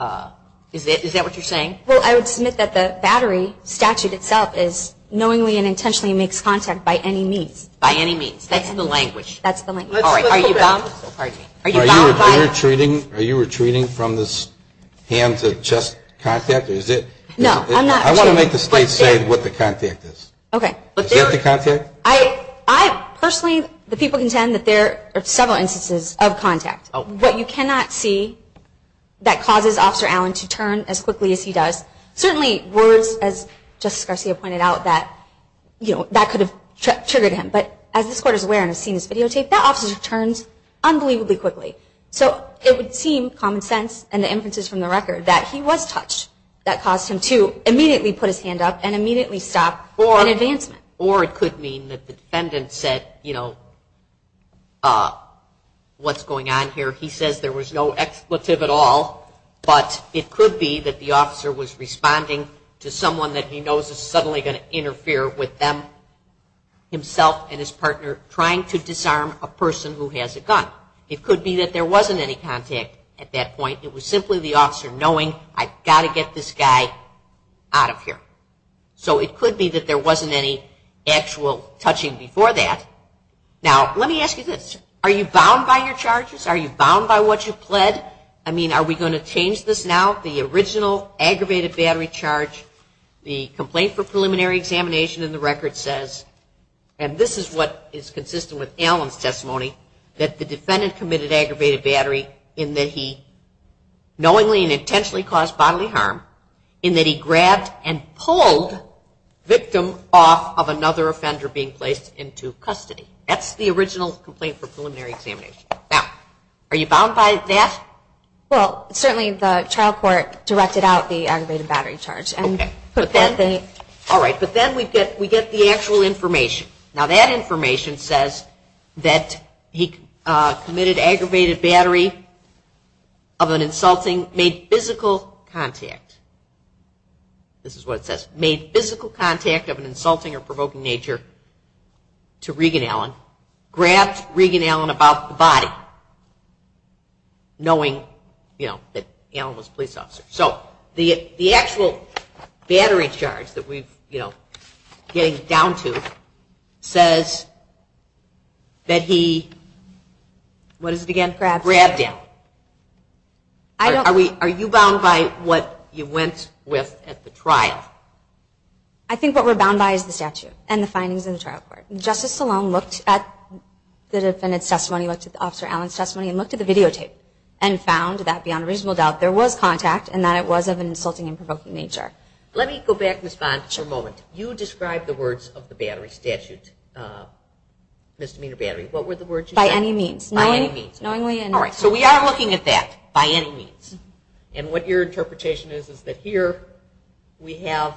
I would submit that the battery statute itself is knowingly and intentionally makes contact by any means. By any means. That's the language. That's the language. All right. Are you bummed? Are you bummed by. Are you retreating from this hands of chest contact? Or is it. No, I'm not. I want to make the state say what the contact is. Okay. Is that the contact? I personally, the people contend that there are several instances of contact. What you cannot see that causes Officer Allen to turn as quickly as he does. Certainly words, as Justice Garcia pointed out, that could have triggered him. But as this court is aware and has seen this videotape, that officer turns unbelievably quickly. So it would seem common sense and the inferences from the record that he was touched. That caused him to immediately put his hand up and immediately stop an advancement. Or it could mean that the defendant said, you know, what's going on here. He says there was no expletive at all. But it could be that the officer was responding to someone that he knows is suddenly going to interfere with them. Himself and his partner trying to disarm a person who has a gun. It could be that there wasn't any contact at that point. It was simply the officer knowing I've got to get this guy out of here. So it could be that there wasn't any actual touching before that. Now, let me ask you this. Are you bound by your charges? Are you bound by what you pled? I mean, are we going to change this now? The original aggravated battery charge, the complaint for preliminary examination in the record says, and this is what is consistent with Allen's testimony, that the defendant committed aggravated battery in that he knowingly and intentionally caused bodily harm. In that he grabbed and pulled victim off of another offender being placed into custody. That's the original complaint for preliminary examination. Now, are you bound by that? Well, certainly the trial court directed out the aggravated battery charge. All right, but then we get the actual information. Now, that information says that he committed aggravated battery of an insulting, made physical contact. This is what it says. Made physical contact of an insulting or provoking nature to Regan Allen. Grabbed Regan Allen about the body knowing that Allen was a police officer. So the actual battery charge that we're getting down to says that he, what is it again? Grabbed him. Are you bound by what you went with at the trial? I think what we're bound by is the statute and the findings in the trial court. Justice Sloan looked at the defendant's testimony, looked at Officer Allen's testimony, and looked at the videotape and found that beyond reasonable doubt there was contact and that it was of an insulting and provoking nature. Let me go back, Ms. Bond, for a moment. You described the words of the battery statute, misdemeanor battery. What were the words you said? By any means. By any means. All right, so we are looking at that, by any means. And what your interpretation is is that here we have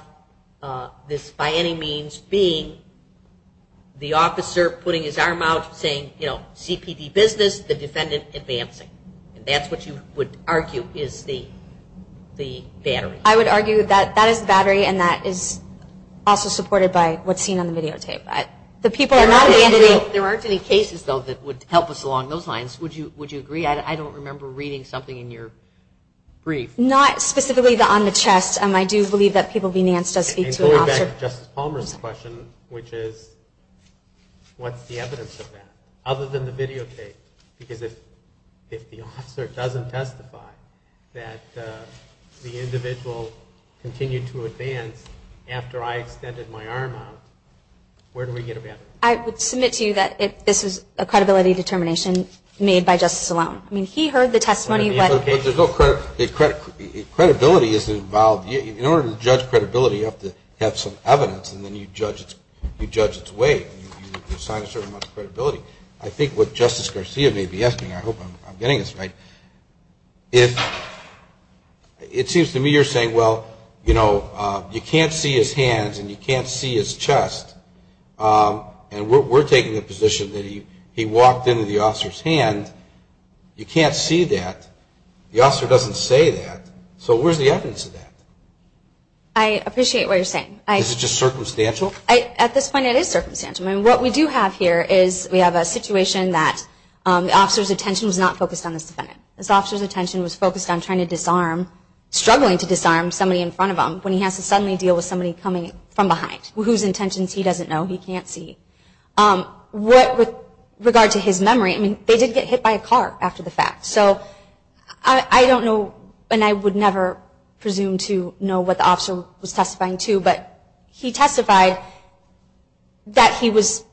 this by any means being the officer putting his arm out saying, you know, CPD business, the defendant advancing. And that's what you would argue is the battery. I would argue that that is the battery, and that is also supported by what's seen on the videotape. But the people are not in the entity. There aren't any cases, though, that would help us along those lines. Would you agree? I don't remember reading something in your brief. Not specifically on the chest. I do believe that People v. Nance does speak to an officer. Going back to Justice Palmer's question, which is, what's the evidence of that, other than the videotape? Because if the officer doesn't testify that the individual continued to advance after I extended my arm out, where do we get a battery? I would submit to you that this is a credibility determination made by Justice Sloan. I mean, he heard the testimony. Credibility is involved. In order to judge credibility, you have to have some evidence, and then you judge its weight. You assign a certain amount of credibility. I think what Justice Garcia may be asking, I hope I'm getting this right, it seems to me you're saying, well, you know, you can't see his hands and you can't see his chest, and we're taking the position that he walked into the officer's hand. You can't see that. The officer doesn't say that. So where's the evidence of that? I appreciate what you're saying. Is it just circumstantial? At this point, it is circumstantial. I mean, what we do have here is we have a situation that the officer's attention was not focused on this defendant. This officer's attention was focused on trying to disarm, struggling to disarm somebody in front of him when he has to suddenly deal with somebody coming from behind, whose intentions he doesn't know, he can't see. With regard to his memory, I mean, they did get hit by a car after the fact. So I don't know, and I would never presume to know what the officer was testifying to, but he testified that he was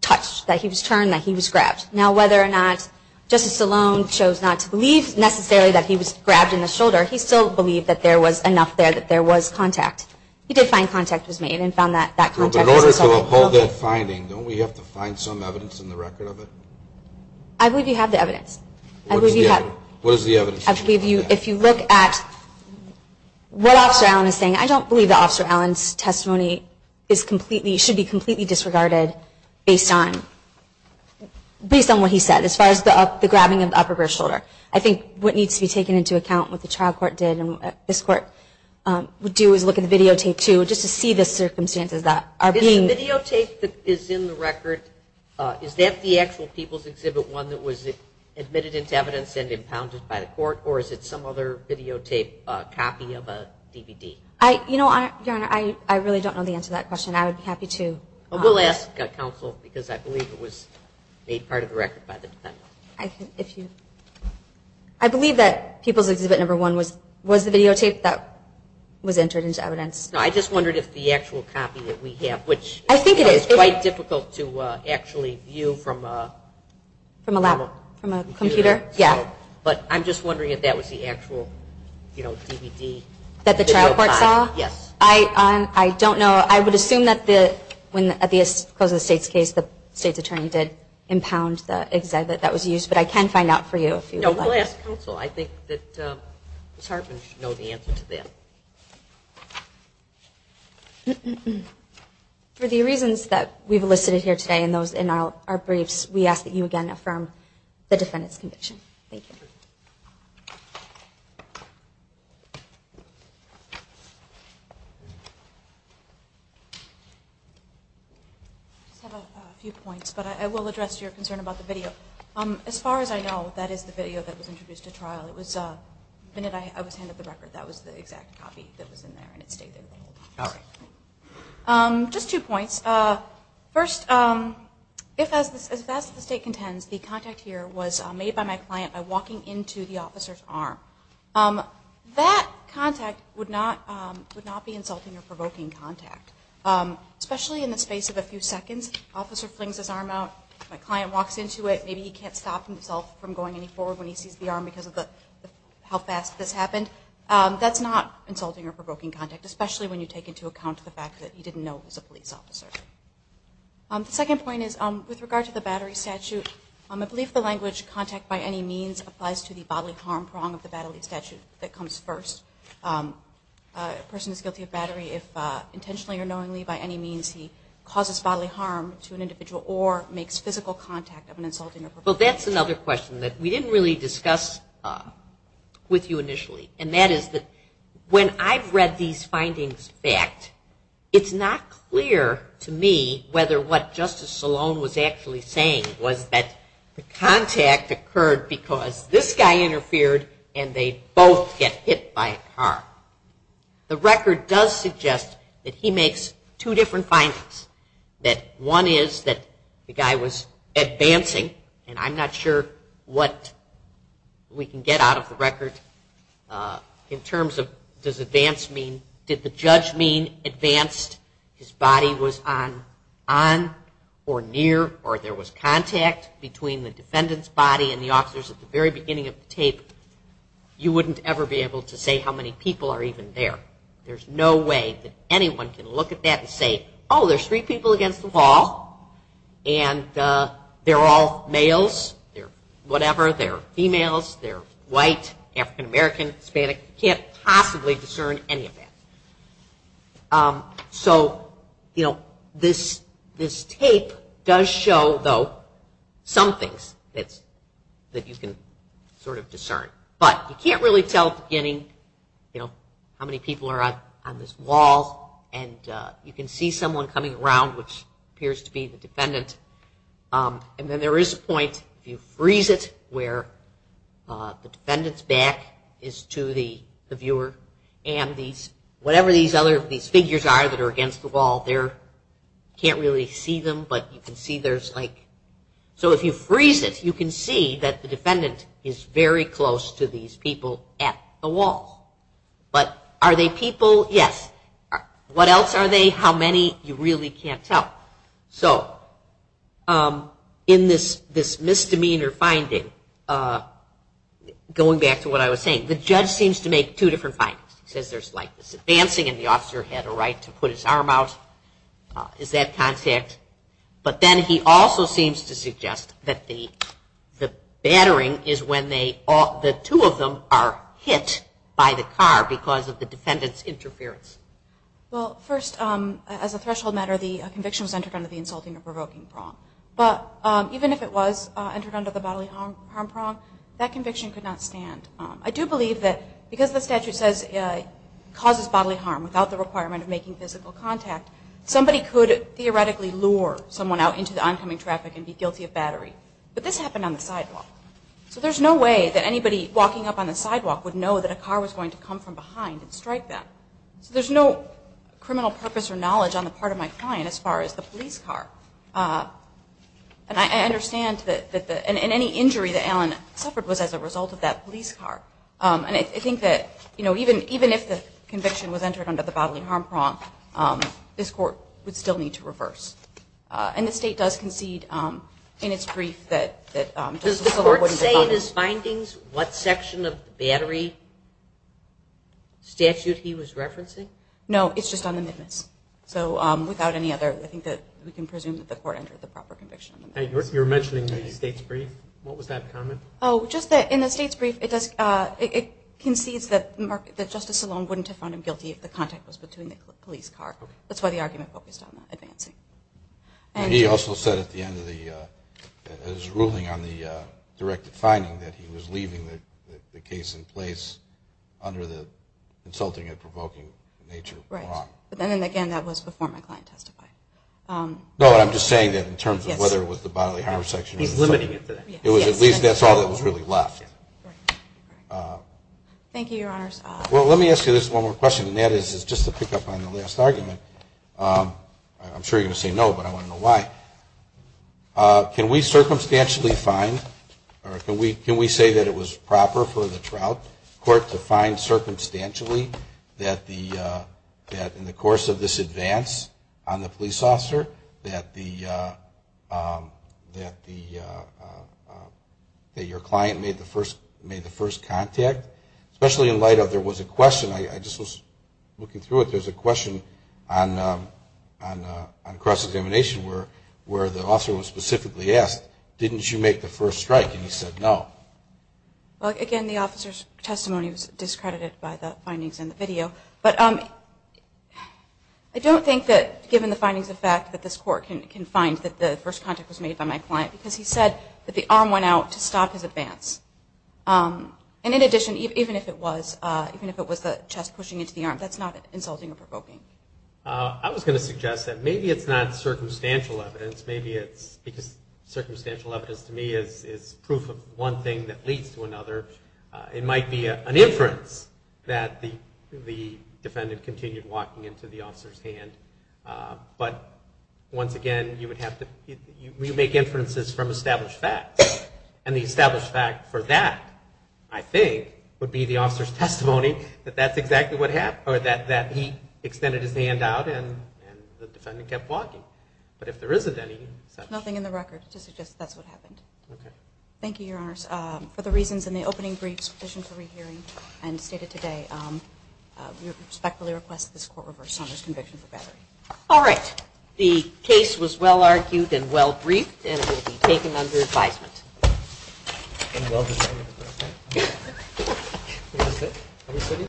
touched, that he was turned, that he was grabbed. Now, whether or not Justice Stallone chose not to believe necessarily that he was grabbed in the shoulder, he still believed that there was enough there, that there was contact. He did find contact was made and found that contact was installed. In order to uphold that finding, don't we have to find some evidence in the record of it? I believe you have the evidence. What is the evidence? If you look at what Officer Allen is saying, I don't believe that Officer Allen's testimony should be completely disregarded based on what he said, as far as the grabbing of the upper rear shoulder. I think what needs to be taken into account, what the trial court did and what this court would do, is look at the videotape, too, just to see the circumstances that are being- Is the videotape that is in the record, is that the actual People's Exhibit 1 that was admitted into evidence and impounded by the court, or is it some other videotape copy of a DVD? Your Honor, I really don't know the answer to that question. I would be happy to- We'll ask counsel, because I believe it was made part of the record by the defendant. I believe that People's Exhibit 1 was the videotape that was entered into evidence. I just wondered if the actual copy that we have, which- I think it is. It's quite difficult to actually view from a computer. But I'm just wondering if that was the actual DVD. That the trial court saw? Yes. I don't know. I would assume that when, at the close of the state's case, the state's attorney did impound the exhibit that was used. But I can find out for you if you would like. No, we'll ask counsel. I think that Ms. Hartman should know the answer to that. For the reasons that we've elicited here today in our briefs, we ask that you again affirm the defendant's conviction. Thank you. I just have a few points, but I will address your concern about the video. As far as I know, that is the video that was introduced at trial. The minute I was handed the record, that was the exact copy that was in there, and it stayed there the whole time. All right. Just two points. First, if, as the state contends, the contact here was made by my client by walking into the officer's arm, that contact would not be insulting or provoking contact, especially in the space of a few seconds. The officer flings his arm out. My client walks into it. Maybe he can't stop himself from going any forward when he sees the arm because of how fast this happened. That's not insulting or provoking contact, especially when you take into account the fact that he didn't know he was a police officer. The second point is, with regard to the battery statute, I believe the language, contact by any means, applies to the bodily harm prong of the battery statute that comes first. A person is guilty of battery if intentionally or knowingly by any means he causes bodily harm to an individual or makes physical contact of an insulting or provoking person. Well, that's another question that we didn't really discuss with you initially, and that is that when I've read these findings back, it's not clear to me whether what Justice Salone was actually saying was that the contact occurred because this guy interfered and they both get hit by a car. The record does suggest that he makes two different findings, that one is that the guy was advancing, and I'm not sure what we can get out of the record in terms of does advance mean, did the judge mean advanced? His body was on or near or there was contact between the defendant's body and the officers at the very beginning of the tape. You wouldn't ever be able to say how many people are even there. There's no way that anyone can look at that and say, oh, there's three people against the wall and they're all males, they're whatever, they're females, they're white, African American, Hispanic, you can't possibly discern any of that. This tape does show, though, some things that you can sort of discern, but you can't really tell at the beginning how many people are on this wall and you can see someone coming around, which appears to be the defendant, and then there is a point, if you freeze it, where the defendant's back is to the viewer and these, whatever these other, these figures are that are against the wall, there, you can't really see them, but you can see there's like, so if you freeze it, you can see that the defendant is very close to these people at the wall. But are they people? Yes. What else are they? How many? You really can't tell. So in this misdemeanor finding, going back to what I was saying, the judge seems to make two different findings. He says there's like this advancing and the officer had a right to put his arm out, is that contact? But then he also seems to suggest that the battering is when they, the two of them are hit by the car because of the defendant's interference. Well, first, as a threshold matter, the conviction was entered under the insulting or provoking prong. But even if it was entered under the bodily harm prong, that conviction could not stand. I do believe that because the statute says it causes bodily harm without the requirement of making physical contact, somebody could theoretically lure someone out into the oncoming traffic and be guilty of battery. But this happened on the sidewalk. So there's no way that anybody walking up on the sidewalk would know that a car was going to come from behind and strike them. So there's no criminal purpose or knowledge on the part of my client as far as the police car. And I understand that any injury that Alan suffered was as a result of that police car. And I think that, you know, even if the conviction was entered under the bodily harm prong, this court would still need to reverse. And the state does concede in its brief that Justice Salone wouldn't have found him guilty. Does the court say in his findings what section of the battery statute he was referencing? No. It's just on the midmiss. So without any other, I think that we can presume that the court entered the proper conviction. You were mentioning the state's brief. What was that comment? Oh, just that in the state's brief, it concedes that Justice Salone wouldn't have found him guilty if the contact was between the police car. That's why the argument focused on advancing. And he also said at the end of his ruling on the directed finding that he was leaving the case in place under the insulting and provoking nature prong. Right. And again, that was before my client testified. No, I'm just saying that in terms of whether it was the bodily harm section. He's limiting it to that. It was at least that's all that was really left. Right. Thank you, Your Honors. Well, let me ask you this one more question. And that is just to pick up on the last argument. I'm sure you're going to say no, but I want to know why. Can we circumstantially find or can we say that it was proper for the Trout Court to find circumstantially that in the course of this advance on the police officer that your client made the first contact? Especially in light of there was a question. I just was looking through it. There was a question on cross-examination where the officer was specifically asked, didn't you make the first strike? And he said no. Well, again, the officer's testimony was discredited by the findings in the video. But I don't think that given the findings of fact that this court can find that the first contact was made by my client because he said that the arm went out to stop his advance. And in addition, even if it was the chest pushing into the arm, that's not insulting or provoking. I was going to suggest that maybe it's not circumstantial evidence. Maybe it's because circumstantial evidence to me is proof of one thing that leads to another. It might be an inference that the defendant continued walking into the officer's hand. But once again, you make inferences from established facts. And the established fact for that, I think, would be the officer's testimony that that's exactly what happened, or that he extended his hand out and the defendant kept walking. But if there isn't any... Nothing in the record to suggest that's what happened. Okay. Thank you, Your Honors. For the reasons in the opening briefs, petition for rehearing, and stated today, we respectfully request that this court reverse Sondra's conviction for battery. All right. The case was well argued and well briefed, and it will be taken under counsel's advisement. Thank you. Thank you.